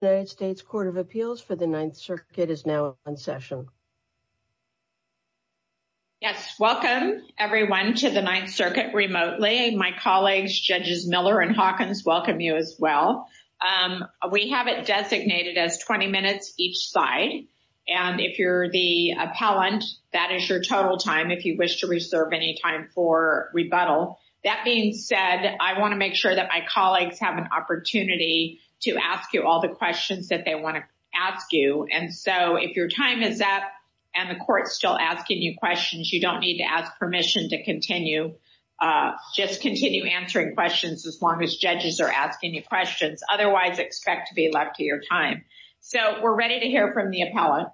United States Court of Appeals for the Ninth Circuit is now in session. Yes, welcome everyone to the Ninth Circuit remotely. My colleagues, Judges Miller and Hawkins welcome you as well. We have it designated as 20 minutes each side. And if you're the appellant, that is your total time if you wish to reserve any time for rebuttal. That being said, I want to make sure that my colleagues have an opportunity to ask you all the questions that they want to ask you. And so if your time is up, and the court's still asking you questions, you don't need to ask permission to continue. Just continue answering questions as long as judges are asking you questions. Otherwise, expect to be left to your time. So we're ready to hear from the appellant.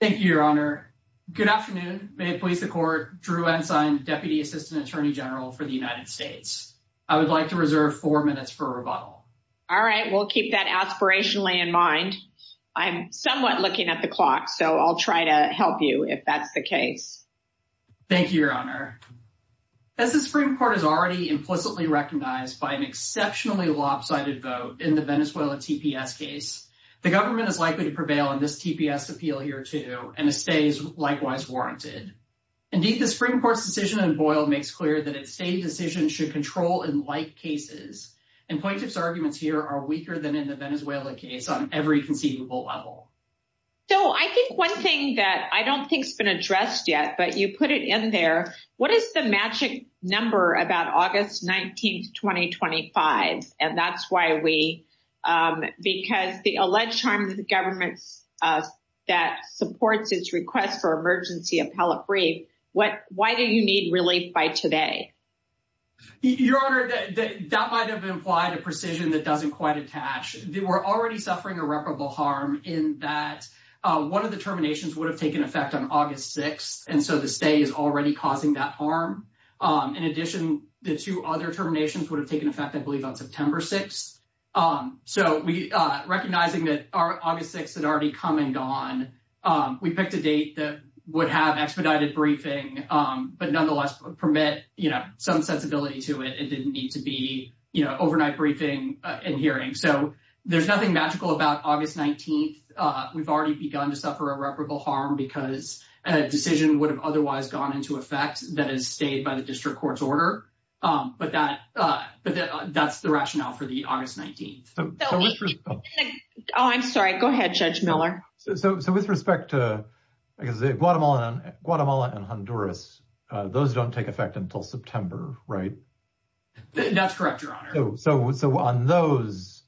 Thank you, Your Honor. Good afternoon, may it please the court, Drew Ensign, Deputy Assistant Attorney General for the United States. I would like to reserve four minutes for rebuttal. All right, we'll keep that aspirationally in mind. I'm somewhat looking at the clock. So I'll try to help you if that's the case. Thank you, Your Honor. As the Supreme Court has already implicitly recognized by an exceptionally lopsided vote in the Venezuela TPS case, the government is likely to prevail in this TPS appeal here too, and it stays likewise warranted. Indeed, the Supreme Court's decision in Boyle makes clear that a state decision should control in like cases. And plaintiff's arguments here are weaker than in the Venezuela case on every conceivable level. So I think one thing that I don't think has been addressed yet, but you put it in there. What is the magic number about August 19th, 2025? And that's why we, because the alleged harm to the government that supports its request for emergency appellate brief, why do you need relief by today? Your Honor, that might have implied a precision that doesn't quite attach. They were already suffering irreparable harm in that one of the terminations would have taken effect on August 6th. And so the stay is already causing that harm. In addition, the two other terminations would have taken effect, I believe, on September 6th. So we, recognizing that our August 6th had already come and gone, we picked a date that would have expedited briefing, but nonetheless permit, you know, some sensibility to it. It didn't need to be, you know, overnight briefing and hearing. So there's nothing magical about August 19th. We've already begun to suffer irreparable harm because a decision would otherwise gone into effect that is stayed by the district court's order. But that's the rationale for the August 19th. Oh, I'm sorry. Go ahead, Judge Miller. So with respect to Guatemala and Honduras, those don't take effect until September, right? That's correct, Your Honor. So on those,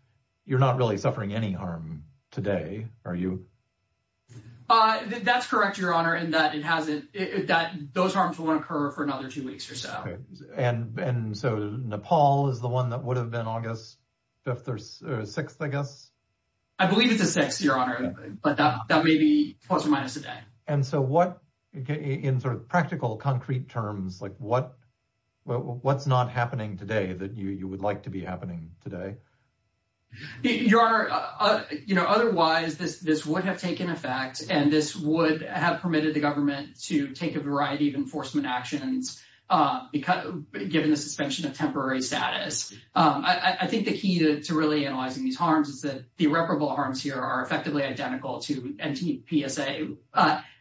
you're not really suffering any harm today, are you? Uh, that's correct, Your Honor, in that it hasn't, those harms won't occur for another two weeks or so. And so Nepal is the one that would have been August 5th or 6th, I guess? I believe it's a 6th, Your Honor, but that may be plus or minus a day. And so what, in sort of practical, concrete terms, like what's not happening today that you would like to be happening today? Your Honor, you know, otherwise this would have taken effect and this would have permitted the government to take a variety of enforcement actions given the suspension of temporary status. I think the key to really analyzing these harms is that the irreparable harms here are effectively identical to NTPSA.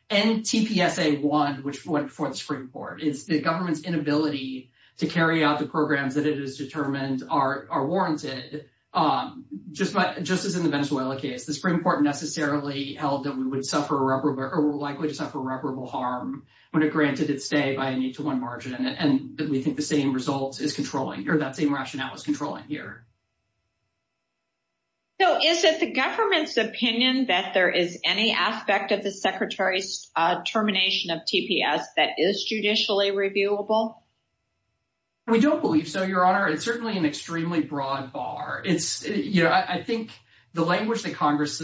NTPSA 1, which went before the Supreme Court, is the government's inability to carry out the programs that it has determined are warranted. Just as in the Venezuela case, the Supreme Court necessarily held that we would suffer irreparable, or likely to suffer irreparable harm when it granted its stay by a need to one margin. And we think the same results is controlling, or that same rationale is controlling here. So is it the government's opinion that there is any aspect of the Secretary's termination of TPS that is judicially reviewable? We don't believe so, Your Honor. It's certainly an extremely broad bar. It's, you know, I think the language that Congress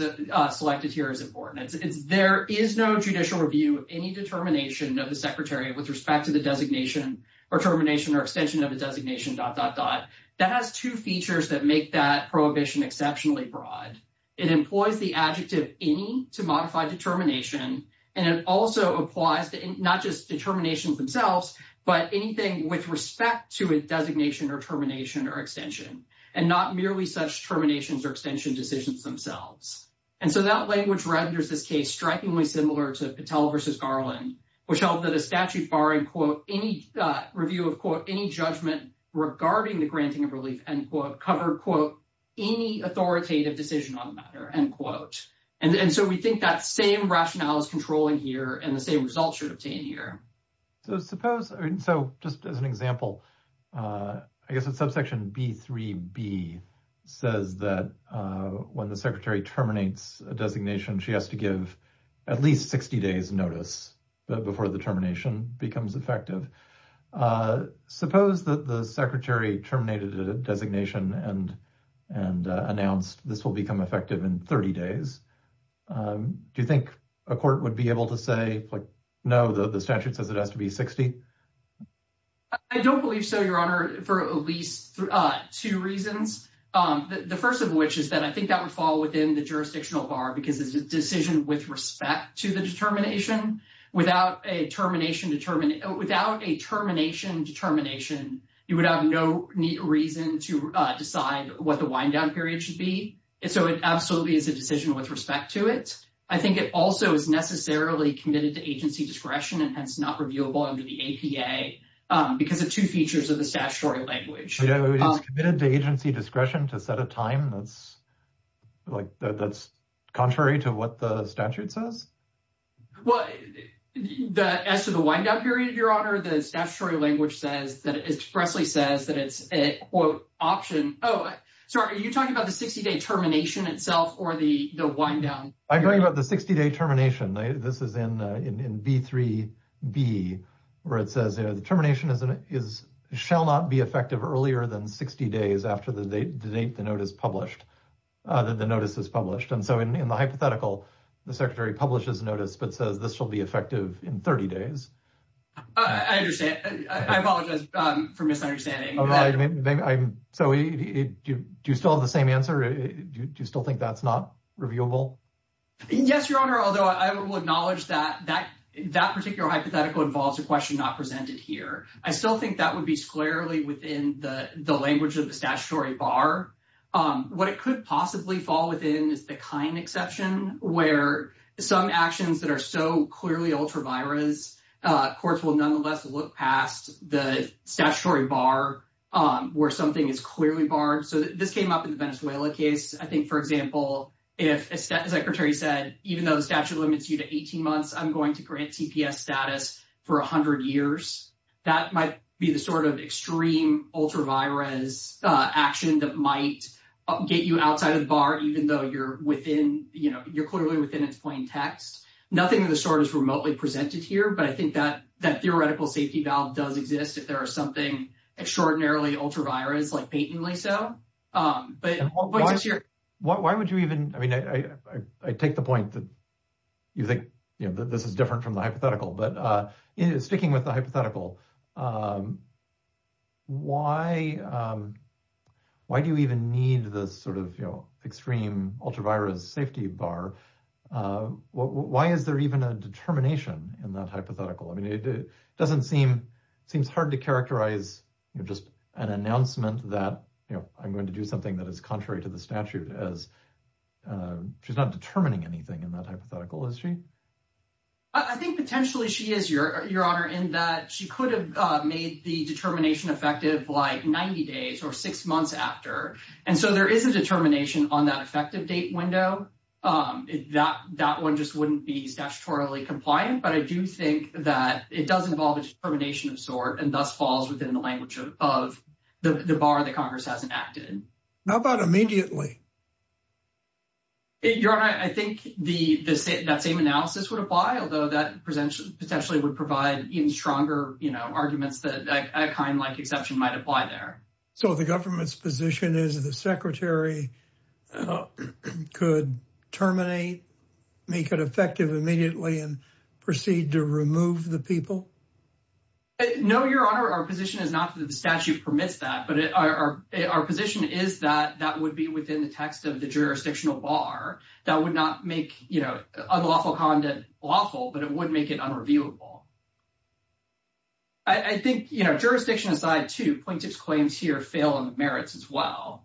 selected here is important. It's there is no judicial review of any determination of the Secretary with respect to the designation or termination or extension of the designation dot dot dot. That has two features that make that prohibition exceptionally broad. It employs the adjective any to modify determination, and it also applies to not just determinations themselves, but anything with respect to a designation or termination or extension, and not merely such terminations or extension decisions themselves. And so that language renders this case strikingly similar to Patel versus Garland, which held that a statute barring, quote, any review of, quote, any judgment regarding the granting of relief, end quote, covered, quote, any authoritative decision on the matter, end quote. And so we think that same rationale is controlling here, and the same results should obtain here. So suppose, so just as an example, I guess it's subsection B3b says that when the Secretary terminates a designation, she has to give at least 60 days notice before the termination becomes effective. Suppose that the Secretary terminated a designation and announced this will become effective in 30 days. Do you think a court would be able to say, like, no, the statute says it has to be 60? I don't believe so, Your Honor, for at least two reasons. The first of which is that I think that would fall within the jurisdictional bar because it's a decision with respect to the determination. Without a termination determination, without a termination determination, you would have no reason to decide what the wind-down period should be. And so it absolutely is a decision with respect to it. I think it also is necessarily committed to agency discretion, and hence not reviewable under the APA, because of two features of the statutory language. So it is committed to agency discretion to set a time that's, like, that's contrary to what the statute says? Well, as to the wind-down period, Your Honor, the statutory language says that it expressly says that it's a, quote, option. Oh, sorry, are you talking about the 60-day termination itself or the wind-down? I'm talking about the 60-day termination. This is in B-3-B, where it says, you know, the termination shall not be effective earlier than 60 days after the date the notice is published. And so in the hypothetical, the Secretary publishes a notice but says this shall be effective in 30 days. I understand. I apologize for misunderstanding. I'm sorry, do you still have the same answer? Do you still think that's not reviewable? Yes, Your Honor, although I will acknowledge that that particular hypothetical involves a question not presented here. I still think that would be squarely within the language of the statutory bar. What it could possibly fall within is the kind exception, where some actions that are so clearly ultra-virus, courts will nonetheless look past the statutory bar, where something is clearly barred. So this came up in the Venezuela case. I think, for example, if a Secretary said, even though the statute limits you to 18 months, I'm going to grant TPS status for 100 years. That might be the sort of extreme ultra-virus action that might get you barred, even though you're clearly within its plain text. Nothing in the short is remotely presented here, but I think that theoretical safety valve does exist if there is something extraordinarily ultra-virus, like patently so. Why would you even, I mean, I take the point that you think this is different from the hypothetical, but speaking with the hypothetical, why do you even need this sort of extreme ultra-virus safety bar? Why is there even a determination in that hypothetical? I mean, it doesn't seem, it seems hard to characterize just an announcement that, you know, I'm going to do something that is contrary to the statute as she's not determining anything in that hypothetical, is she? I think potentially she is, Your Honor, in that she could have made the determination effective like 90 days or six months after. And so there is a determination on that effective date window. That one just wouldn't be statutorily compliant, but I do think that it does involve a determination of sort and thus falls within the language of the bar that Congress has enacted. How about immediately? Your Honor, I think that same analysis would apply, although that potentially would provide even stronger arguments that a kind like exception might apply there. So the government's position is the secretary could terminate, make it effective immediately, and proceed to remove the people? No, Your Honor, our position is not that the statute permits that, but our position is that that would be within the text of the jurisdictional bar that would not make, you know, unlawful conduct lawful, but it would make it unreviewable. I think, you know, jurisdiction aside, too, plaintiff's claims here fail on the merits as well.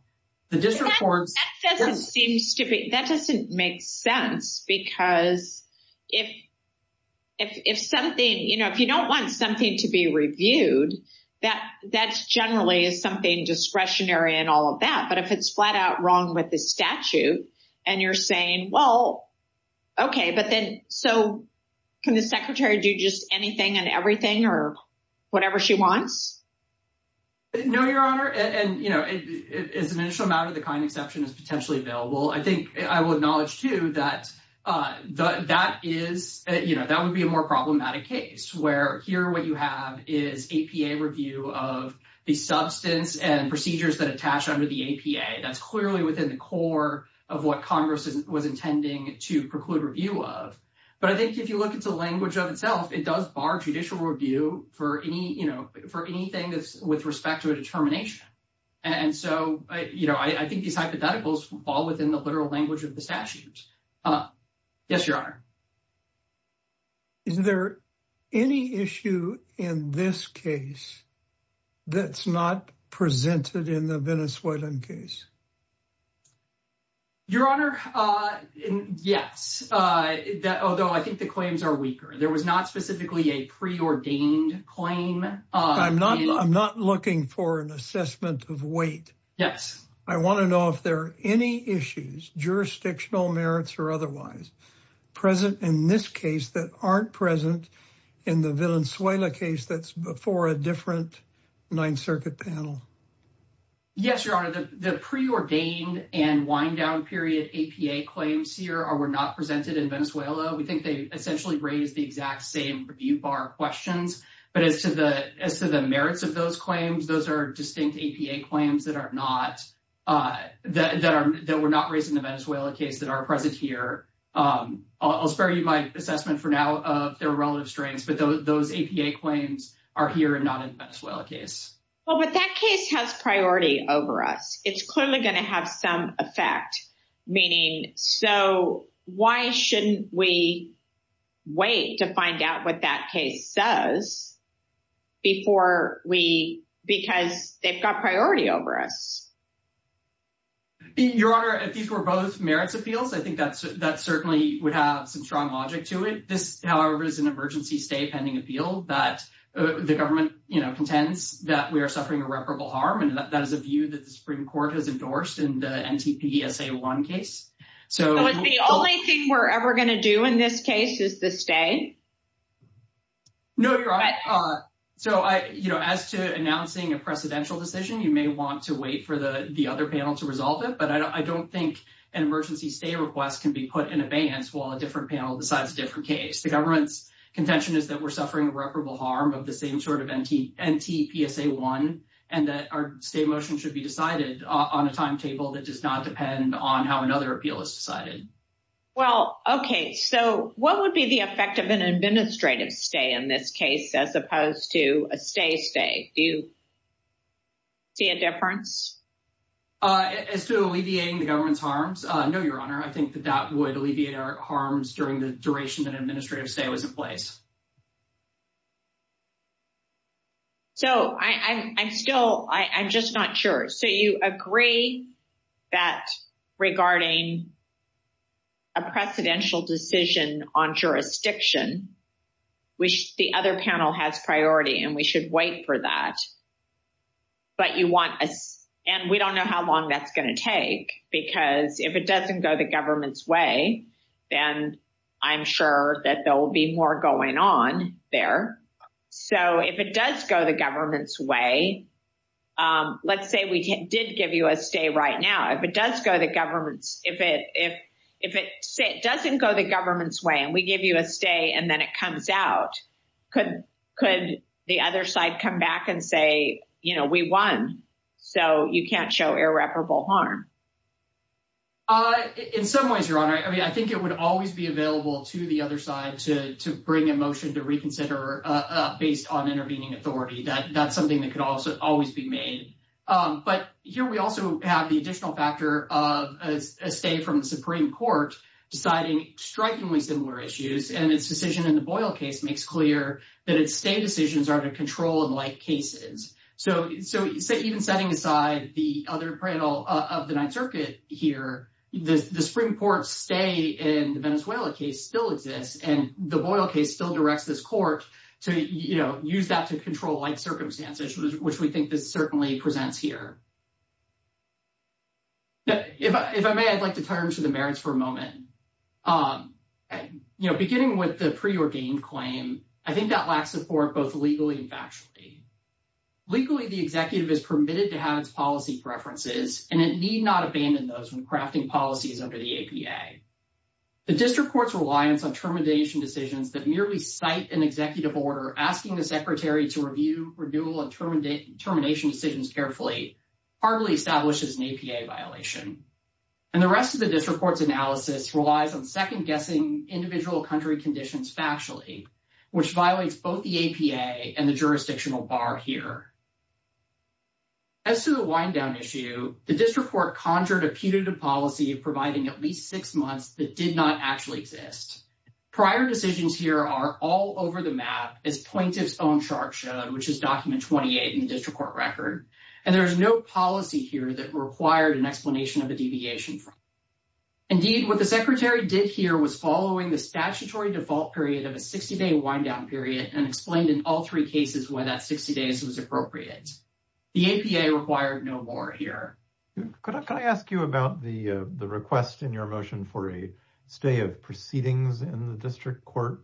The district courts... That doesn't seem to be, that doesn't make sense because if something, you know, if you don't want something to be reviewed, that generally is something discretionary and all of that, but if it's flat out wrong with the statute and you're saying, well, okay, but then, so can the secretary do just anything and everything or whatever she wants? No, Your Honor, and, you know, as an initial matter, the kind exception is potentially available. I think I will acknowledge, too, that that is, you know, that would be a more problematic case where here what you have is APA review of the substance and procedures that attach under the APA. That's clearly within the core of what Congress was intending to preclude review of, but I think if you look at the language of itself, it does bar judicial review for any, you know, for anything with respect to a determination, and so, you know, I think these hypotheticals fall within the literal language of the statute. Yes, Your Honor. Is there any issue in this case that's not presented in the Venezuelan case? Your Honor, yes, although I think the claims are weaker. There was not specifically a preordained claim. I'm not looking for an assessment of weight. Yes. I want to know if there are any issues, jurisdictional merits or otherwise, present in this case that aren't present in the Venezuela case that's before a different Ninth Circuit panel. Yes, Your Honor, the preordained and wind-down period APA claims here were not presented in We think they essentially raised the exact same review bar questions, but as to the merits of those claims, those are distinct APA claims that are not, that were not raised in the Venezuela case that are present here. I'll spare you my assessment for now of their relative strengths, but those APA claims are here and not in the Venezuela case. Well, but that case has priority over us. It's clearly going to have some effect, meaning, so why shouldn't we wait to find out what that case says before we, because they've got priority over us? Your Honor, if these were both merits appeals, I think that certainly would have some strong logic to it. This, however, is an emergency stay pending appeal that the government contends that we are suffering irreparable harm. And that is a view that the Supreme Court has endorsed in the NTPSA1 case. So it's the only thing we're ever going to do in this case is to stay? No, Your Honor, so as to announcing a precedential decision, you may want to wait for those the other panel to resolve it. But I don't think an emergency stay request can be put in abeyance while a different panel decides a different case. The government's contention is that we're suffering irreparable harm of the same sort of NTPSA1 and that our stay motion should be decided on a timetable that does not depend on how another appeal is decided. Well, okay. So what would be the effect of an administrative stay in this case, as opposed to a stay stay? Do you see a difference? As to alleviating the government's harms? No, Your Honor. I think that that would alleviate our harms during the duration that administrative stay was in place. So I'm still, I'm just not sure. So you agree that regarding a precedential decision on jurisdiction, which the other panel has priority and we should wait for that. But you want us, and we don't know how long that's going to take, because if it doesn't go the government's way, then I'm sure that there will be more going on there. So if it does go the government's way, let's say we did give you a stay right now. If it does go the government's, if it, if it doesn't go the government's way and we give you a stay and then it comes out, could the other side come back and say, well, we won, so you can't show irreparable harm? In some ways, Your Honor, I mean, I think it would always be available to the other side to bring a motion to reconsider based on intervening authority. That's something that could also always be made. But here we also have the additional factor of a stay from the Supreme Court deciding strikingly similar issues. And its decision in the Boyle case makes clear that its stay decisions are to control and control-like cases. So, so even setting aside the other panel of the Ninth Circuit here, the Supreme Court stay in the Venezuela case still exists, and the Boyle case still directs this court to, you know, use that to control-like circumstances, which we think this certainly presents here. If I may, I'd like to turn to the merits for a moment. You know, beginning with the preordained claim, I think that lacks support both legally and factually. Legally, the executive is permitted to have its policy preferences, and it need not abandon those when crafting policies under the APA. The district court's reliance on termination decisions that merely cite an executive order asking the secretary to review renewal and termination decisions carefully hardly establishes an APA violation. And the rest of the district court's analysis relies on second-guessing individual country factually, which violates both the APA and the jurisdictional bar here. As to the wind-down issue, the district court conjured a putative policy providing at least six months that did not actually exist. Prior decisions here are all over the map, as plaintiff's own chart showed, which is document 28 in the district court record, and there is no policy here that required an explanation of the deviation. Indeed, what the secretary did here was following the statutory default period of a 60-day wind-down period and explained in all three cases why that 60 days was appropriate. The APA required no more here. Could I ask you about the request in your motion for a stay of proceedings in the district court,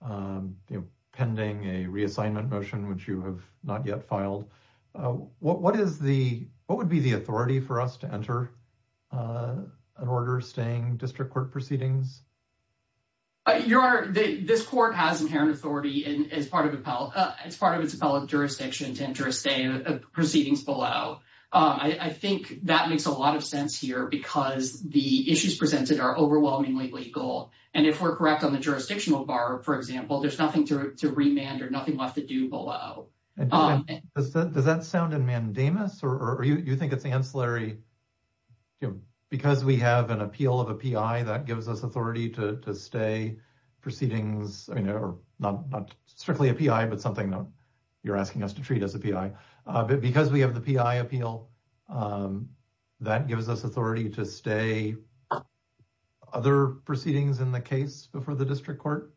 pending a reassignment motion, which you have not yet filed? What would be the authority for us to enter an order staying district court proceedings? Your Honor, this court has inherent authority as part of its appellate jurisdiction to enter a stay of proceedings below. I think that makes a lot of sense here because the issues presented are overwhelmingly legal, and if we're correct on the jurisdictional bar, for example, there's nothing to remand or nothing left to do below. Does that sound in mandamus, or do you think it's ancillary? Because we have an appeal of a PI, that gives us authority to stay proceedings, not strictly a PI, but something you're asking us to treat as a PI. Because we have the PI appeal, that gives us authority to stay other proceedings in the case before the district court?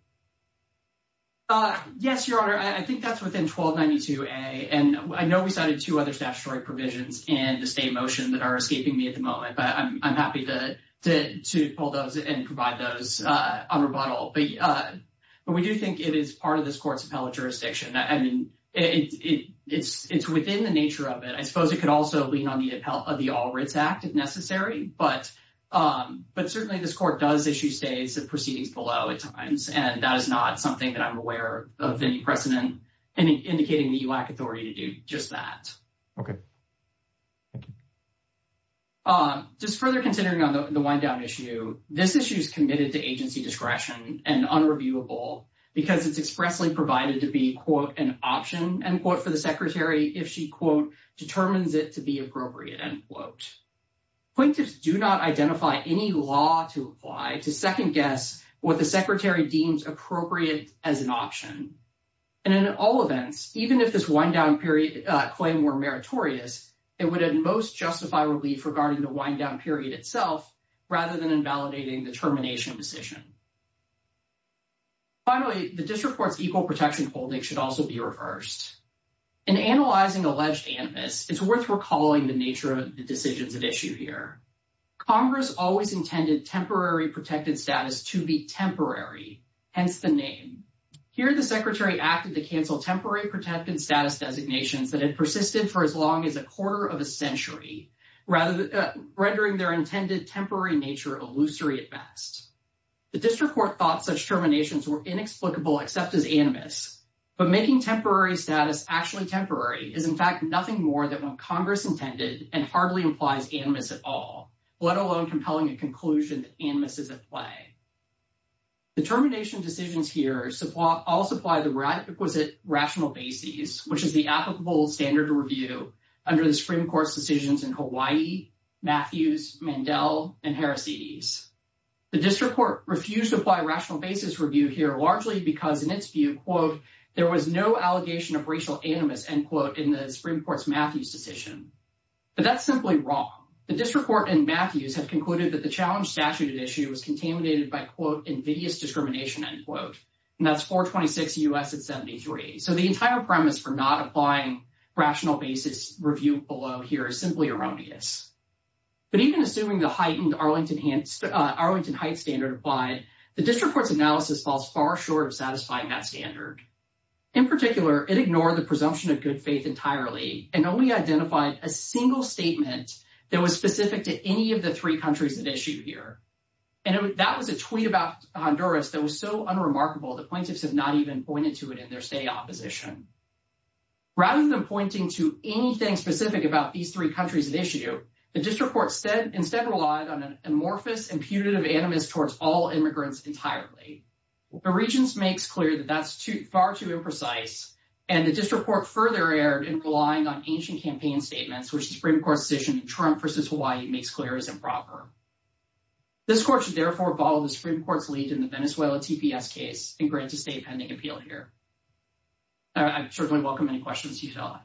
Yes, Your Honor, I think that's within 1292A, and I know we cited two other statutory provisions in the stay motion that are escaping me at the moment, but I'm happy to pull those and provide those on rebuttal. But we do think it is part of this court's appellate jurisdiction. I mean, it's within the nature of it. I suppose it could also lean on the appellate of the All Writs Act if necessary, but certainly this court does issue stays of proceedings below at times. And that is not something that I'm aware of any precedent indicating the UAC authority to do just that. Just further considering on the wind-down issue, this issue is committed to agency discretion and unreviewable because it's expressly provided to be, quote, an option, end quote, for the secretary if she, quote, determines it to be appropriate, end quote. Acquaintances do not identify any law to apply to second guess what the secretary deems appropriate as an option. And in all events, even if this wind-down period claim were meritorious, it would at most justify relief regarding the wind-down period itself rather than invalidating the termination decision. Finally, the district court's equal protection holding should also be reversed. In analyzing alleged animus, it's worth recalling the nature of the decisions at issue here. Congress always intended temporary protected status to be temporary, hence the name. Here the secretary acted to cancel temporary protected status designations that had persisted for as long as a quarter of a century, rendering their intended temporary nature illusory at best. The district court thought such terminations were inexplicable except as animus, but making temporary status actually temporary is, in fact, nothing more than what Congress intended and hardly implies animus at all, let alone compelling a conclusion that animus is at play. The termination decisions here all supply the requisite rational basis, which is the applicable standard review under the Supreme Court's decisions in Hawaii, Matthews, Mandel, and Heracides. The district court refused to apply rational basis review here largely because in its view, there was no allegation of racial animus in the Supreme Court's Matthews decision. But that's simply wrong. The district court and Matthews have concluded that the challenge statute at issue was contaminated by invidious discrimination, and that's 426 U.S. at 73. So the entire premise for not applying rational basis review below here is simply erroneous. But even assuming the heightened Arlington Heights standard applied, the district court's analysis falls far short of satisfying that standard. In particular, it ignored the presumption of good faith entirely and only identified a single statement that was specific to any of the three countries at issue here. And that was a tweet about Honduras that was so unremarkable, the plaintiffs have not even pointed to it in their state opposition. Rather than pointing to anything specific about these three countries at issue, the district court instead relied on an amorphous, imputative animus towards all immigrants entirely. The regents makes clear that that's far too imprecise, and the district court further erred in relying on ancient campaign statements, which the Supreme Court's decision in Trump versus Hawaii makes clear is improper. This court should therefore follow the Supreme Court's lead in the Venezuela TPS case and grant a state pending appeal here. I certainly welcome any questions you have.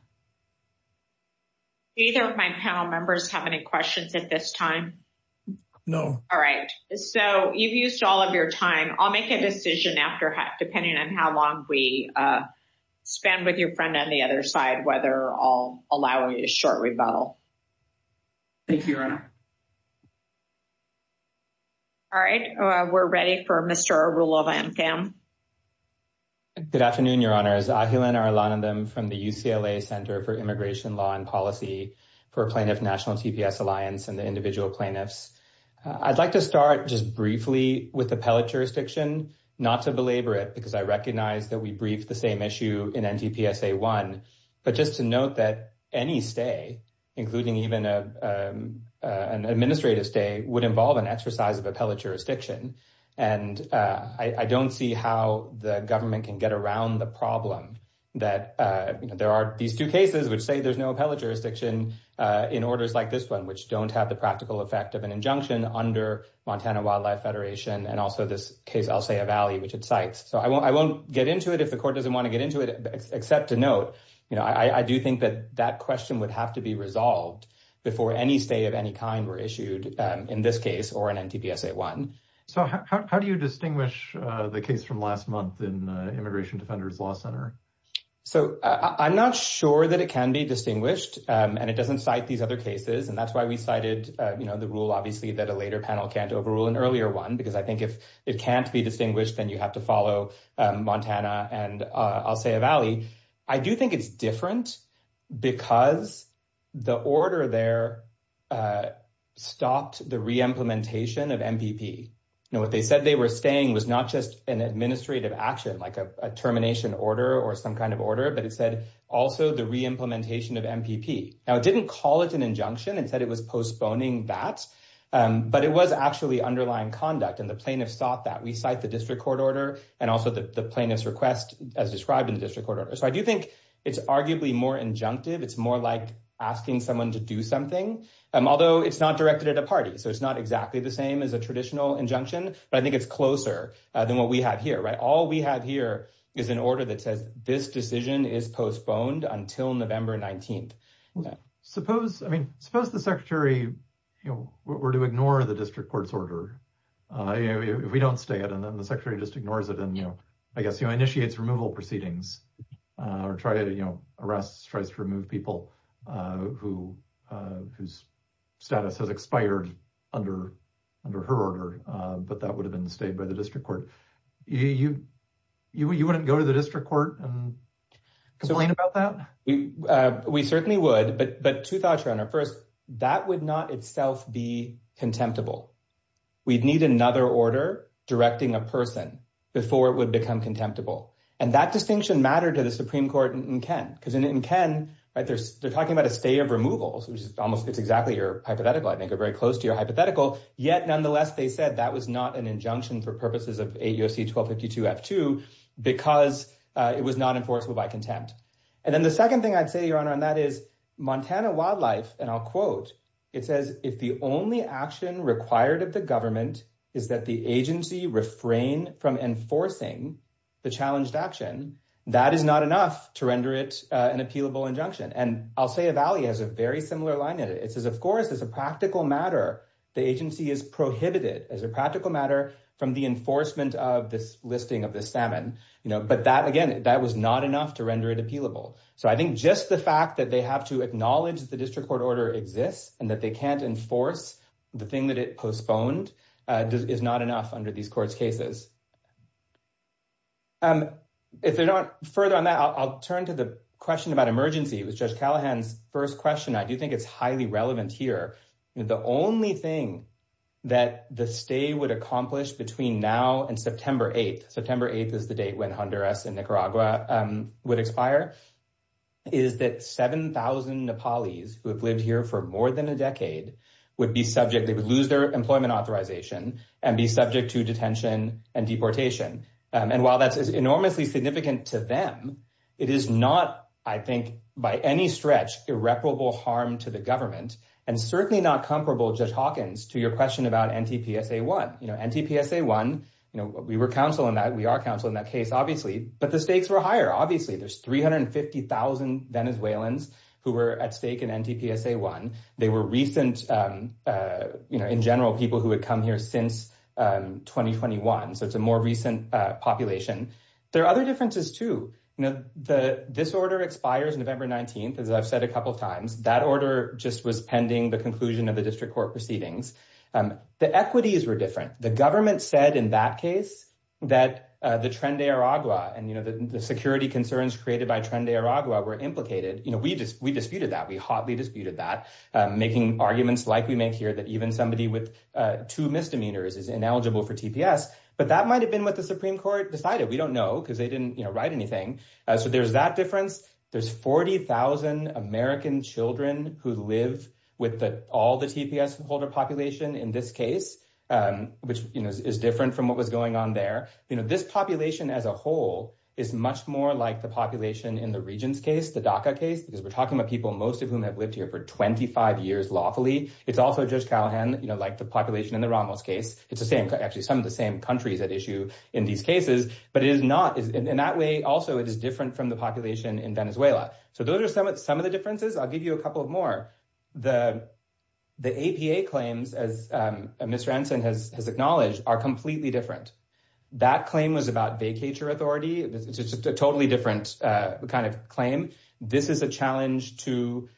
Either of my panel members have any questions at this time? No. All right. So you've used all of your time. I'll make a decision after, depending on how long we spend with your friend on the other side, whether I'll allow a short rebuttal. Thank you, Your Honor. All right. We're ready for Mr. Arulova and Kam. Good afternoon, Your Honors. Ahilan Arulanandam from the UCLA Center for Immigration Law and Policy for Plaintiff National TPS Alliance and the individual plaintiffs. I'd like to start just briefly with appellate jurisdiction, not to belabor it, because I recognize that we briefed the same issue in NTPSA 1, but just to note that any stay, including even an administrative stay, would involve an exercise of appellate jurisdiction. And I don't see how the government can get around the problem that there are these two cases which say there's no appellate jurisdiction in orders like this one, which don't have the practical effect of an injunction under Montana Wildlife Federation, and also this case, Alsea Valley, which it cites. So I won't get into it if the court doesn't want to get into it, except to note, you know, I do think that that question would have to be resolved before any stay of any kind were issued in this case or in NTPSA 1. So how do you distinguish the case from last month in Immigration Defenders Law Center? So I'm not sure that it can be distinguished and it doesn't cite these other cases. And that's why we cited, you know, the rule, obviously, that a later panel can't overrule an earlier one, because I think if it can't be distinguished, then you have to follow Montana and Alsea Valley. I do think it's different because the order there stopped the re-implementation of MPP. You know, what they said they were staying was not just an administrative action, like a termination order or some kind of order, but it said also the re-implementation of MPP. Now, it didn't call it an injunction. It said it was postponing that, but it was actually underlying conduct. And the plaintiffs thought that. We cite the district court order and also the plaintiff's request as described in the district court order. So I do think it's arguably more injunctive. It's more like asking someone to do something, although it's not directed at a party. So it's not exactly the same as a traditional injunction, but I think it's closer than what we have here, right? All we have here is an order that says this decision is postponed until November 19th. Suppose, I mean, suppose the secretary, you know, were to ignore the district court's order if we don't stay it. And then the secretary just ignores it. And, you know, I guess, you know, initiates removal proceedings or try to, you know, arrest, tries to remove people whose status has expired under her order. But that would have been stayed by the district court. You wouldn't go to the district court and complain about that? We certainly would. But two thoughts around that. First, that would not itself be contemptible. We'd need another order directing a person before it would become contemptible. And that distinction mattered to the Supreme Court in Kent. Because in Kent, right, they're talking about a stay of removal, which is almost it's exactly your hypothetical, I think, or very close to your hypothetical. Yet, nonetheless, they said that was not an injunction for purposes of 8 U.S.C. 1252-F2 because it was not enforceable by contempt. And then the second thing I'd say, Your Honor, on that is Montana Wildlife, and I'll quote, it says, if the only action required of the government is that the agency refrain from enforcing the challenged action, that is not enough to render it an appealable injunction. And I'll say a valley has a very similar line in it. It says, of course, as a practical matter, the agency is prohibited as a practical matter from the enforcement of this listing of the salmon. But that, again, that was not enough to render it appealable. So I think just the fact that they have to acknowledge the district court order exists and that they can't enforce the thing that it postponed is not enough under these court's cases. If they're not further on that, I'll turn to the question about emergency. It was Judge Callahan's first question. I do think it's highly relevant here. The only thing that the stay would accomplish between now and September 8th, September 8th is the date when Honduras and Nicaragua would expire, is that 7,000 Nepalese who have lived here for more than a decade would be subject, they would lose their employment authorization and be subject to detention and deportation. And while that's enormously significant to them, it is not, I think, by any stretch, irreparable harm to the government and certainly not comparable, Judge Hawkins, to your question about NTPSA-1. NTPSA-1, we were counsel in that. We are counsel in that case, obviously. But the stakes were higher, obviously. There's 350,000 Venezuelans who were at stake in NTPSA-1. They were recent, in general, people who had come here since 2021. So it's a more recent population. There are other differences, too. This order expires November 19th, as I've said a couple of times. That order just was pending the conclusion of the district court proceedings. The equities were different. The government said in that case that the Tren de Aragua and the security concerns created by Tren de Aragua were implicated. We disputed that. We hotly disputed that, making arguments like we make here that even somebody with two misdemeanors is ineligible for TPS. But that might have been what the Supreme Court decided. We don't know because they didn't write anything. So there's that difference. There's 40,000 American children who live with all the TPS holder population in this case, which is different from what was going on there. This population as a whole is much more like the population in the Regents case, the DACA case, because we're talking about people, most of whom have lived here for 25 years lawfully. It's also Judge Callahan, like the population in the Ramos case. It's actually some of the same countries at issue in these cases. But it is not in that way. Also, it is different from the population in Venezuela. So those are some of the differences. I'll give you a couple of more. The APA claims, as Mr. Anson has acknowledged, are completely different. That claim was about vacature authority. It's a totally different kind of claim. This is a challenge to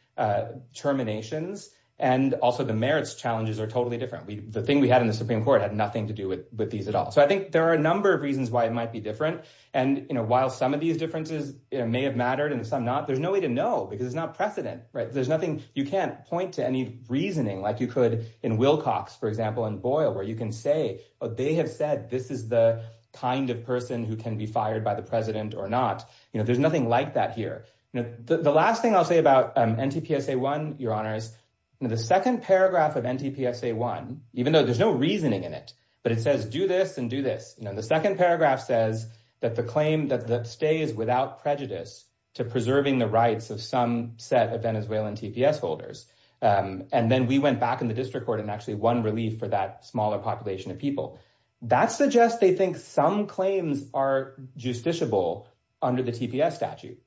terminations. And also the merits challenges are totally different. The thing we had in the Supreme Court had nothing to do with these at all. I think there are a number of reasons why it might be different. And while some of these differences may have mattered and some not, there's no way to know because it's not precedent. There's nothing. You can't point to any reasoning like you could in Wilcox, for example, and Boyle, where you can say, oh, they have said this is the kind of person who can be fired by the president or not. There's nothing like that here. The last thing I'll say about NTPSA 1, Your Honors, the second paragraph of NTPSA 1, even though there's no reasoning in it, but it says do this and do this. The second paragraph says that the claim that stays without prejudice to preserving the rights of some set of Venezuelan TPS holders. And then we went back in the district court and actually won relief for that smaller population of people. That suggests they think some claims are justiciable under the TPS statute.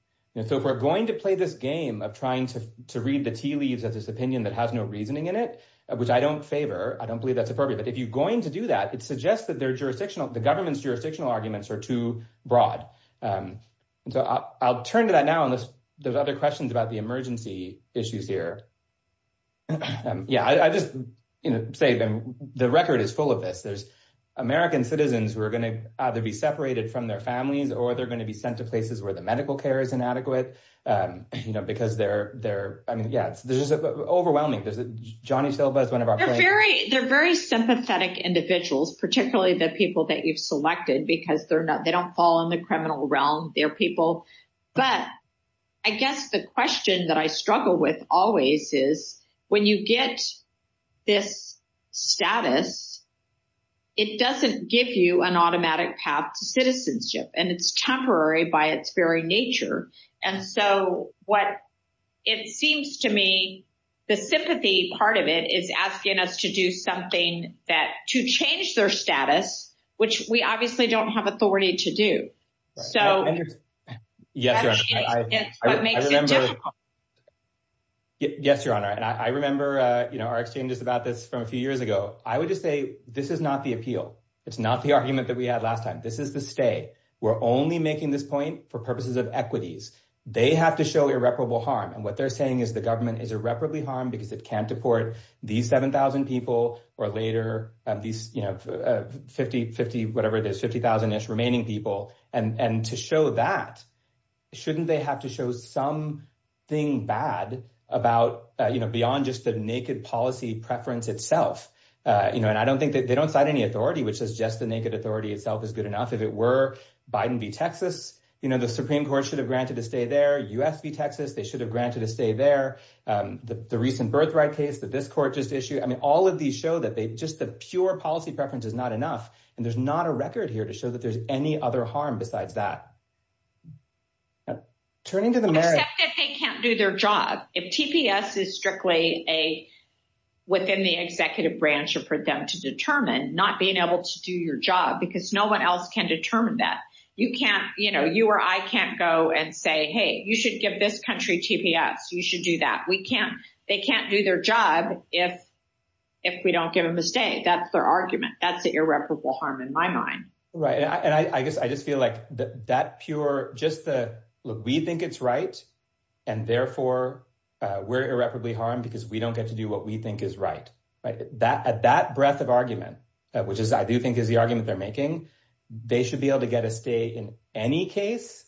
So if we're going to play this game of trying to read the tea leaves as this opinion that has no reasoning in it, which I don't favor, I don't believe that's appropriate. But if you're going to do that, it suggests that their jurisdictional, the government's jurisdictional arguments are too broad. And so I'll turn to that now unless there's other questions about the emergency issues here. Yeah, I just say the record is full of this. There's American citizens who are going to either be separated from their families or they're going to be sent to places where the medical care is inadequate, you know, because they're there. I mean, yes, this is overwhelming. Johnny Silva is one of our very, very sympathetic individuals, particularly the people that you've selected, because they're not they don't fall in the criminal realm. They're people. But I guess the question that I struggle with always is when you get this status, it doesn't give you an automatic path to citizenship and it's temporary by its very nature. And so what it seems to me, the sympathy part of it is asking us to do something that to change their status, which we obviously don't have authority to do so. Yes, I remember. Yes, Your Honor, and I remember our exchanges about this from a few years ago. I would just say this is not the appeal. It's not the argument that we had last time. This is the stay. We're only making this point for purposes of equities. They have to show irreparable harm. And what they're saying is the government is irreparably harmed because it can't deport these 7000 people or later these, you know, 50, 50, whatever it is, 50,000 remaining people. And to show that, shouldn't they have to show something bad about, you know, beyond just the naked policy preference itself? You know, and I don't think that they don't cite any authority, which is just the naked authority itself is good enough. If it were Biden v. Texas, you know, the Supreme Court should have granted a stay there. U.S. v. Texas, they should have granted a stay there. The recent birthright case that this court just issued. I mean, all of these show that they just the pure policy preference is not enough. And there's not a record here to show that there's any other harm besides that. Turning to the merit. Except that they can't do their job. If TPS is strictly a within the executive branch or for them to determine not being able to do your job because no one else can determine that you can't, you know, you or I can't go and say, hey, you should give this country TPS. You should do that. We can't they can't do their job if if we don't give them a stay. That's their argument. That's the irreparable harm in my mind. Right. And I guess I just feel like that pure just the look, we think it's right. And therefore, we're irreparably harmed because we don't get to do what we think is right. That at that breadth of argument, which is I do think is the argument they're making, they should be able to get a stay in any case.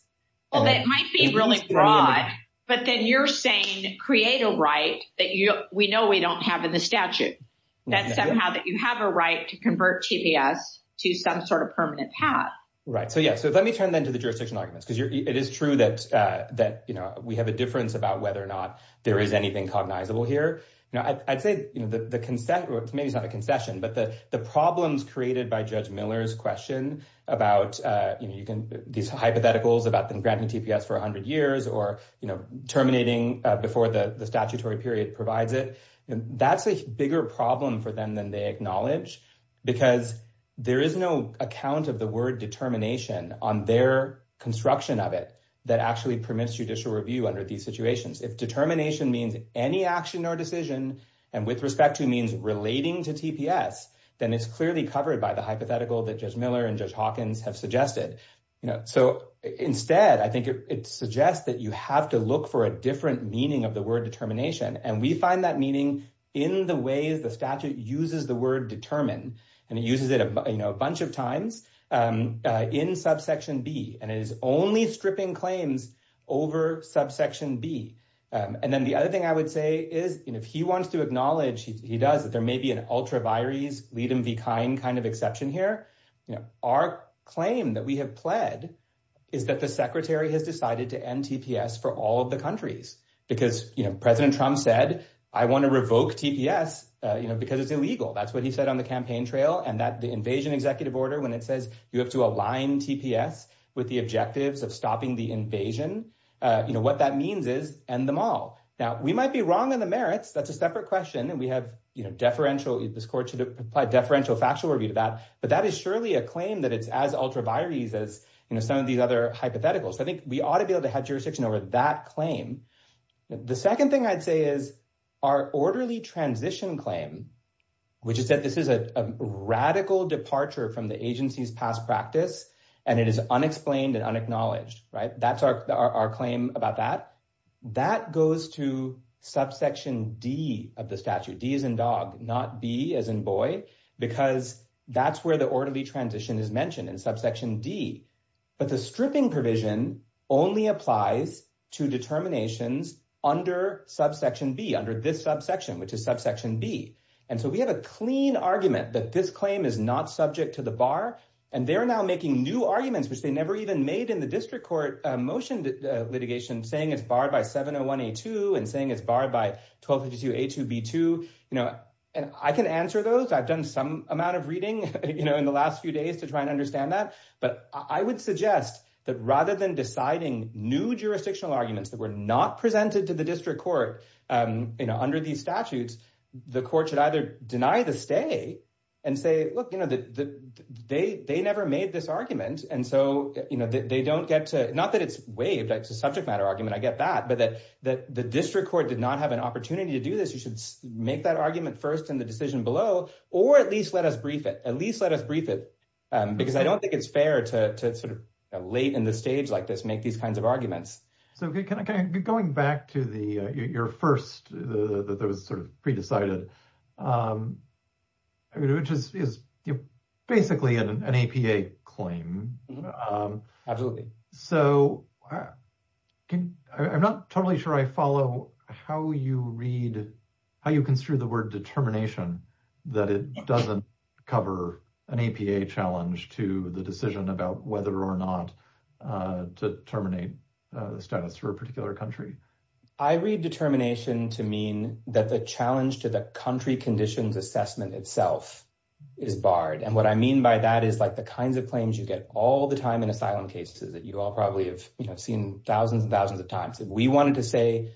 Well, that might be really broad. But then you're saying create a right that we know we don't have in the statute, that somehow that you have a right to convert TPS to some sort of permanent path. Right. So, yeah. So let me turn then to the jurisdictional arguments, because it is true that, you know, we have a difference about whether or not there is anything cognizable here. You know, I'd say, you know, the consent maybe it's not a concession, but the the problems created by Judge Miller's question about, you know, you can these hypotheticals about them granting TPS for 100 years or, you know, terminating before the statutory period provides it. And that's a bigger problem for them than they acknowledge, because there is no account of the word determination on their construction of it that actually permits judicial review under these situations. If determination means any action or decision and with respect to means relating to TPS, then it's clearly covered by the hypothetical that Judge Miller and Judge Hawkins have suggested. You know, so instead, I think it suggests that you have to look for a different meaning of the word determination. And we find that meaning in the ways the statute uses the word determine. And it uses it, you know, a bunch of times in subsection B. And it is only stripping claims over subsection B. And then the other thing I would say is, you know, if he wants to acknowledge, he does that there may be an ultra vires, lead him be kind kind of exception here. You know, our claim that we have pled is that the secretary has decided to end TPS for all of the countries because, you know, President Trump said, I want to revoke TPS, you know, because it's illegal. That's what he said on the campaign trail. And that the invasion executive order when it says you have to align TPS with the objectives of stopping the invasion, you know, what that means is end them all. Now, we might be wrong on the merits. That's a separate question. And we have, you know, deferential, this court should apply deferential factual review to that. But that is surely a claim that it's as ultra vires as, you know, some of these other hypotheticals. I think we ought to be able to have jurisdiction over that claim. The second thing I'd say is our orderly transition claim, which is that this is a radical departure from the agency's past practice. And it is unexplained and unacknowledged, right? That's our claim about that. That goes to subsection D of the statute, D as in dog, not B as in boy, because that's where the orderly transition is mentioned in subsection D. But the stripping provision only applies to determinations under subsection B, under this subsection, which is subsection B. And so we have a clean argument that this claim is not subject to the bar. And they're now making new arguments, which they never even made in the district court motion litigation, saying it's barred by 701A2 and saying it's barred by 1252A2B2. You know, and I can answer those. I've done some amount of reading, you know, in the last few days to try and understand that. But I would suggest that rather than deciding new jurisdictional arguments that were not presented to the district court, you know, under these statutes, the court should either deny the stay and say, look, you know, they never made this argument. And so, you know, they don't get to, not that it's waived, it's a subject matter argument, I get that, but that the district court did not have an opportunity to do this. You should make that argument first in the decision below, or at least let us brief it, at least let us brief it, because I don't think it's fair to sort of late in the stage like this, make these kinds of arguments. So going back to your first, that was sort of pre-decided, which is basically an APA claim. Absolutely. So I'm not totally sure I follow how you read, how you construe the word determination, that it doesn't cover an APA challenge to the decision about whether or not to terminate for a particular country. I read determination to mean that the challenge to the country conditions assessment itself is barred. And what I mean by that is like the kinds of claims you get all the time in asylum cases that you all probably have seen thousands and thousands of times. If we wanted to say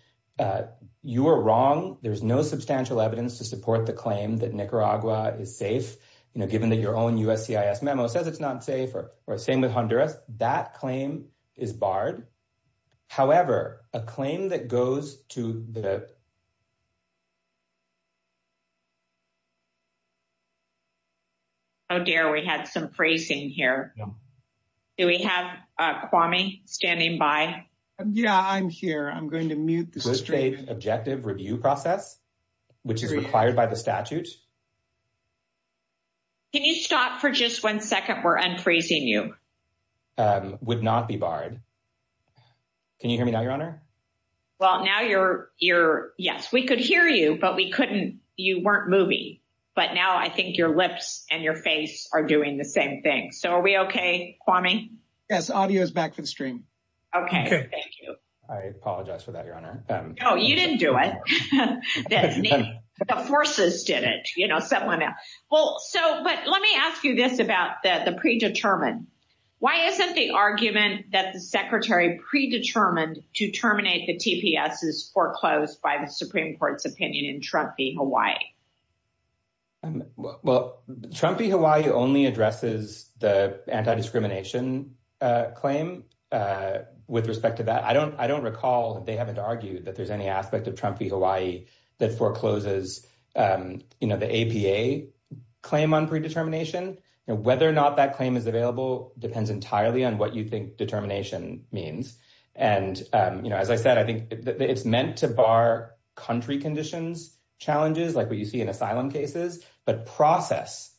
you are wrong, there's no substantial evidence to support the claim that Nicaragua is safe, you know, given that your own USCIS memo says it's not safe, or same with Honduras, that claim is barred. However, a claim that goes to the... Oh, dear. We had some phrasing here. Do we have Kwame standing by? Yeah, I'm here. I'm going to mute the stream. Good faith objective review process, which is required by the statute. Can you stop for just one second? We're unfreezing you. Would not be barred. Can you hear me now, Your Honor? Well, now you're, yes, we could hear you, but we couldn't, you weren't moving. But now I think your lips and your face are doing the same thing. So are we okay, Kwame? Yes, audio is back for the stream. Okay, thank you. I apologize for that, Your Honor. Oh, you didn't do it. The forces did it. Someone else. Well, so, but let me ask you this about the predetermined. Why isn't the argument that the secretary predetermined to terminate the TPS is foreclosed by the Supreme Court's opinion in Trump v. Hawaii? Well, Trump v. Hawaii only addresses the anti-discrimination claim with respect to that. I don't recall that they haven't argued that there's any aspect of Trump v. Hawaii that forecloses the APA claim on predetermination. Whether or not that claim is available depends entirely on what you think determination means. And as I said, I think it's meant to bar country conditions, challenges like what you see in asylum cases. But process,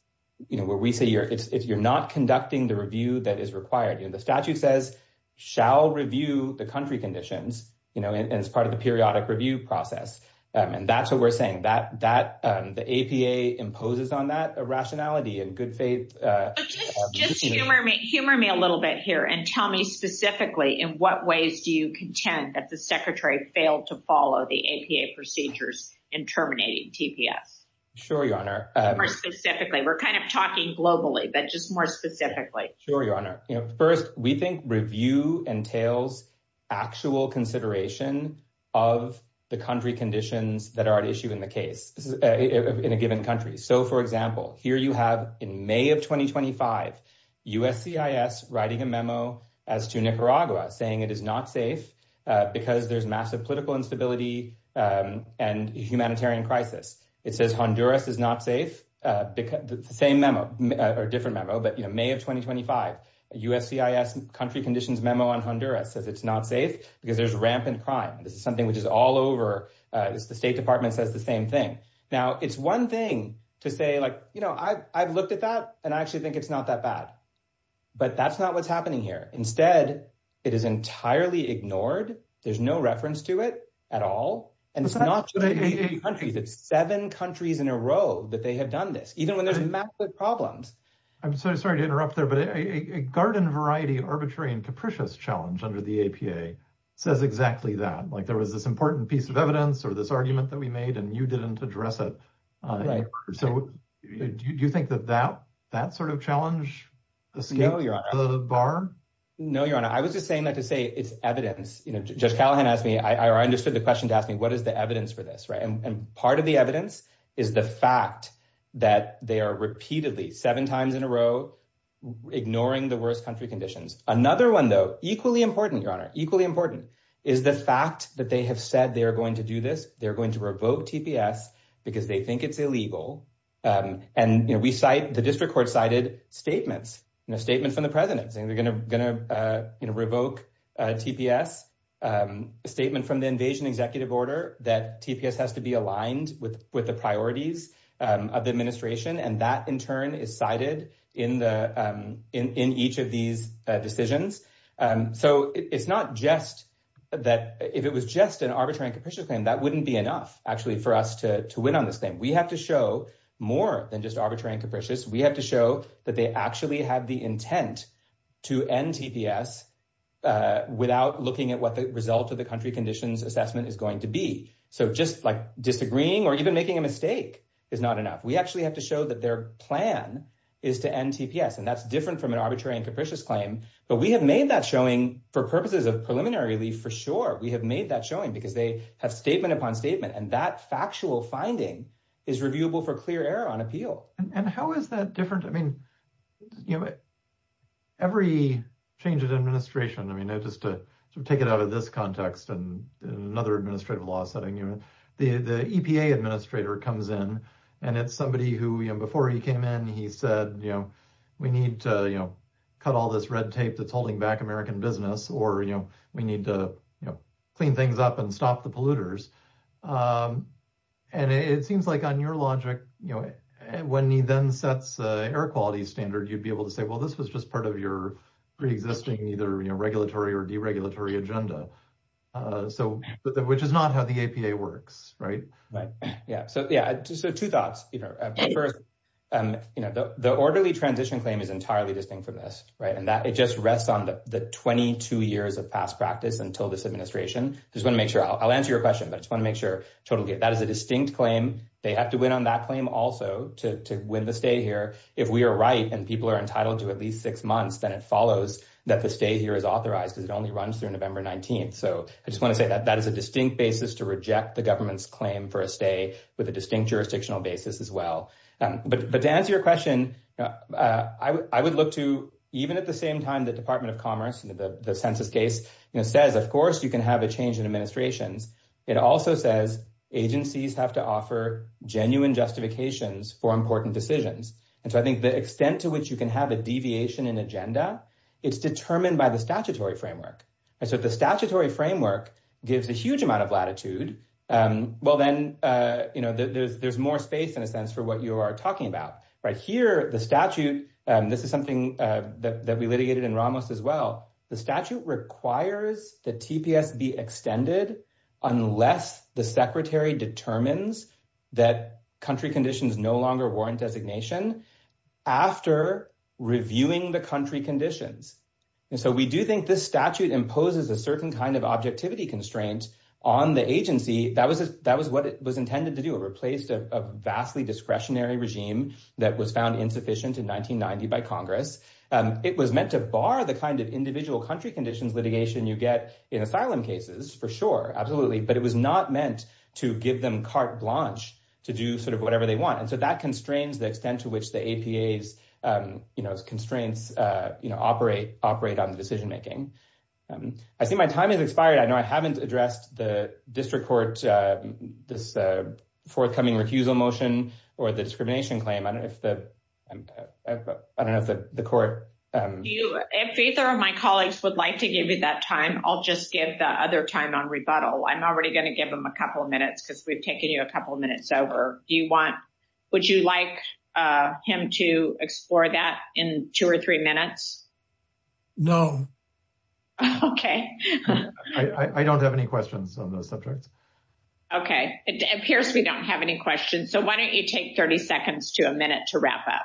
where we say if you're not conducting the review that is required, the statute says, shall review the country conditions. And it's part of the periodic review process. And that's what we're saying. The APA imposes on that a rationality and good faith. Just humor me a little bit here and tell me specifically in what ways do you contend that the secretary failed to follow the APA procedures in terminating TPS? Sure, Your Honor. More specifically. We're kind of talking globally, but just more specifically. Sure, Your Honor. First, we think review entails actual consideration of the country conditions that are at issue in the case in a given country. So, for example, here you have in May of 2025 USCIS writing a memo as to Nicaragua saying it is not safe because there's massive political instability and humanitarian crisis. It says Honduras is not safe. Same memo or different memo. But, you know, May of 2025 USCIS country conditions memo on Honduras says it's not safe because there's rampant crime. This is something which is all over. The State Department says the same thing. Now, it's one thing to say like, you know, I've looked at that and I actually think it's not that bad. But that's not what's happening here. Instead, it is entirely ignored. There's no reference to it at all. And it's not just eight countries. It's seven countries in a row that they have done this, even when there's massive problems. I'm sorry to interrupt there, but a garden variety arbitrary and capricious challenge under the APA says exactly that. Like there was this important piece of evidence or this argument that we made and you didn't address it. So, do you think that that sort of challenge escaped the bar? No, Your Honor. I was just saying that to say it's evidence. Judge Callahan asked me, or I understood the question to ask me, what is the evidence for this? And part of the evidence is the fact that they are repeatedly, seven times in a row, ignoring the worst country conditions. Another one, though, equally important, Your Honor, equally important, is the fact that they have said they are going to do this. They're going to revoke TPS because they think it's illegal. And we cite, the district court cited statements, statements from the president saying they're going to revoke TPS, a statement from the invasion executive order that TPS has to be aligned with the priorities of the administration. And that, in turn, is cited in each of these decisions. So, it's not just that, if it was just an arbitrary and capricious claim, that wouldn't be enough, actually, for us to win on this claim. We have to show more than just arbitrary and capricious. We have to show that they actually have the intent to end TPS without looking at what the result of the country conditions assessment is going to be. So, just, like, disagreeing or even making a mistake is not enough. We actually have to show that their plan is to end TPS. And that's different from an arbitrary and capricious claim. But we have made that showing for purposes of preliminary relief, for sure. We have made that showing because they have statement upon statement. And that factual finding is reviewable for clear error on appeal. And how is that different? I mean, every change in administration, I mean, just to take it out of this context and another administrative law setting, the EPA administrator comes in, and it's somebody who, before he came in, he said, you know, we need to cut all this red tape that's holding back American business, or, you know, we need to clean things up and stop the polluters. And it seems like on your logic, you know, when he then sets air quality standard, you'd be able to say, well, this was just part of your pre-existing either regulatory or deregulatory agenda. So, which is not how the EPA works, right? Right. Yeah. So, yeah. So, two thoughts. You know, first, you know, the orderly transition claim is entirely distinct from this, right? And that it just rests on the 22 years of past practice until this administration. Just want to make sure, I'll answer your question, but I just want to make sure, totally, that is a distinct claim. They have to win on that claim also to win the stay here. If we are right, and people are entitled to at least six months, then it follows that the stay here is authorized because it only runs through November 19th. So, I just want to say that that is a distinct basis to reject the government's claim for a stay with a distinct jurisdictional basis as well. But to answer your question, I would look to, even at the same time, the Department of Commerce, the census case, you know, says, of course, you can have a change in administrations. It also says agencies have to offer genuine justifications for important decisions. And so, I think the extent to which you can have a deviation in agenda, it's determined by the statutory framework. And so, if the statutory framework gives a huge amount of latitude, well, then, you know, there's more space, in a sense, for what you are talking about. Here, the statute, and this is something that we litigated in Ramos as well, the statute requires the TPS be extended unless the secretary determines that country conditions no longer warrant designation after reviewing the country conditions. And so, we do think this statute imposes a certain kind of objectivity constraint on the agency. That was what it was intended to do. It replaced a vastly discretionary regime that was found insufficient in 1990 by Congress. It was meant to bar the kind of individual country conditions litigation you get in asylum cases, for sure, absolutely. But it was not meant to give them carte blanche to do sort of whatever they want. And so, that constrains the extent to which the APA's, you know, constraints, you know, operate on the decision making. I see my time has expired. I know I haven't addressed the district court, this forthcoming recusal motion, or the discrimination claim. I don't know if the, I don't know if the court. Do you, if either of my colleagues would like to give you that time, I'll just give the other time on rebuttal. I'm already going to give him a couple of minutes, because we've taken you a couple of minutes over. Do you want, would you like him to explore that in two or three minutes? No. Okay. I don't have any questions on those subjects. Okay, it appears we don't have any questions. So, why don't you take 30 seconds to a minute to wrap up?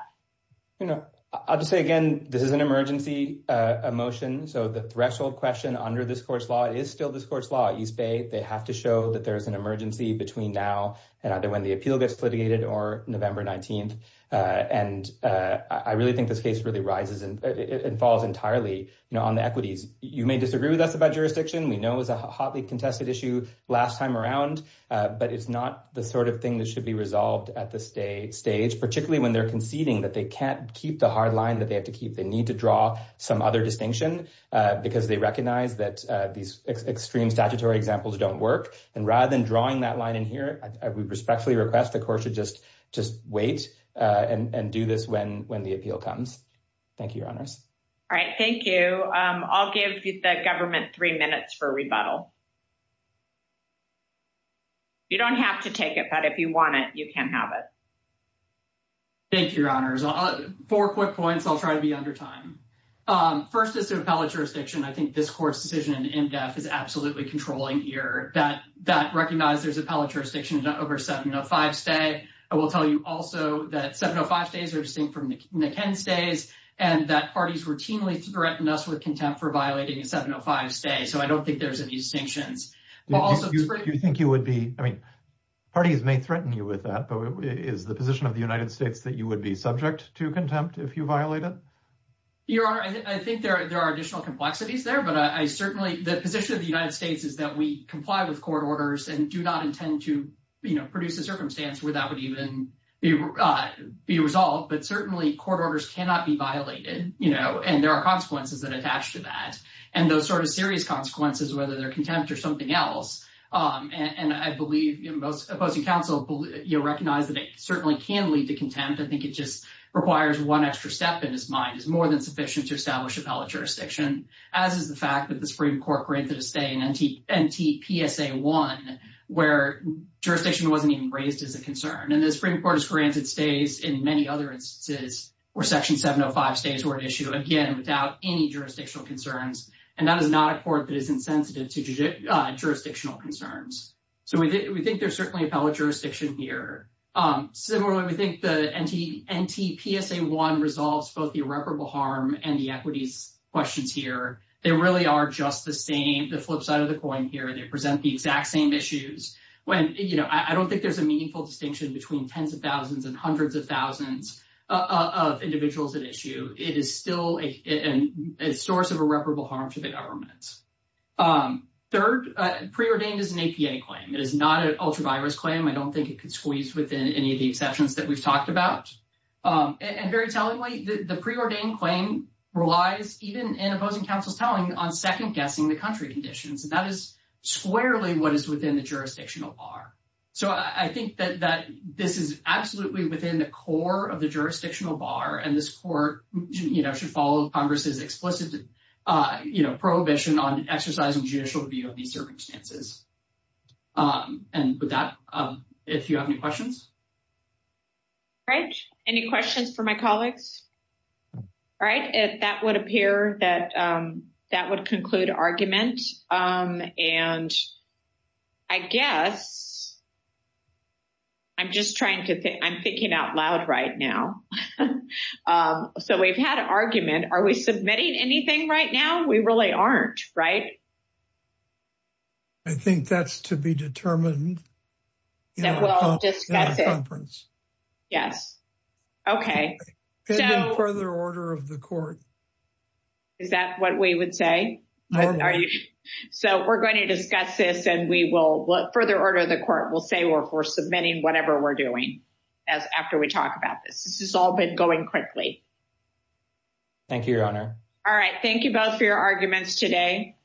You know, I'll just say again, this is an emergency motion. So, the threshold question under this court's law is still this court's law at East Bay. They have to show that there's an emergency between now and either when the appeal gets litigated or November 19th. And I really think this case really rises and falls entirely, you know, on the equities. You may disagree with us about jurisdiction. We know it was a hotly contested issue last time around, but it's not the sort of thing that should be resolved at this stage, particularly when they're conceding that they can't keep the hard line that they have to keep. They need to draw some other distinction, because they recognize that these extreme statutory examples don't work. And rather than drawing that line in here, I would respectfully request the court should just wait and do this when the appeal comes. Thank you, Your Honors. All right, thank you. I'll give the government three minutes for a rebuttal. You don't have to take it, but if you want it, you can have it. Thank you, Your Honors. Four quick points. I'll try to be under time. First is to appellate jurisdiction. I think this court's decision in def is absolutely controlling here. That recognizes there's appellate jurisdiction over 705-stay. I will tell you also that 705-stays are distinct from the Ken-stays and that parties routinely threaten us with contempt for violating a 705-stay. So I don't think there's any distinctions. You think you would be, I mean, parties may threaten you with that, but is the position of the United States that you would be subject to contempt if you violate it? Your Honor, I think there are additional complexities there, but I certainly, the position of the United States is that we comply with court orders and do not intend to, you know, produce a circumstance where that would even be resolved. But certainly, court orders cannot be violated, you know, and there are consequences that attach to that. And those sort of serious consequences, whether they're contempt or something else, and I believe most opposing counsel recognize that it certainly can lead to contempt. I think it just requires one extra step in his mind. It's more than sufficient to establish appellate jurisdiction, as is the fact that the Supreme Court granted a stay in NTPSA 1, where jurisdiction wasn't even raised as a concern. And the Supreme Court has granted stays in many other instances where Section 705 stays were an issue, again, without any jurisdictional concerns. And that is not a court that is insensitive to jurisdictional concerns. So we think there's certainly appellate jurisdiction here. Similarly, we think the NTPSA 1 resolves both the irreparable harm and the equities questions here. They really are just the same, the flip side of the coin here. They present the exact same issues when, you know, I don't think there's a meaningful distinction between tens of thousands and hundreds of thousands of individuals at issue. It is still a source of irreparable harm to the government. Third, preordained is an APA claim. It is not an ultravirus claim. I don't think it could squeeze within any of the exceptions that we've talked about. And very tellingly, the preordained claim relies, even in opposing counsel's telling, on second guessing the country conditions. And that is squarely what is within the jurisdictional bar. So I think that this is absolutely within the core of the jurisdictional bar. And this court, you know, should follow Congress's explicit, you know, prohibition on exercising judicial review of these circumstances. And with that, if you have any questions. All right. Any questions for my colleagues? All right. If that would appear that that would conclude argument. And I guess I'm just trying to think. I'm thinking out loud right now. So we've had an argument. Are we submitting anything right now? We really aren't, right? I think that's to be determined. That we'll discuss it. Yes. It's in further order of the court. Is that what we would say? Are you? So we're going to discuss this and we will look further order. The court will say we're for submitting whatever we're doing. As after we talk about this, this is all been going quickly. Thank you, Your Honor. All right. Thank you both for your arguments today.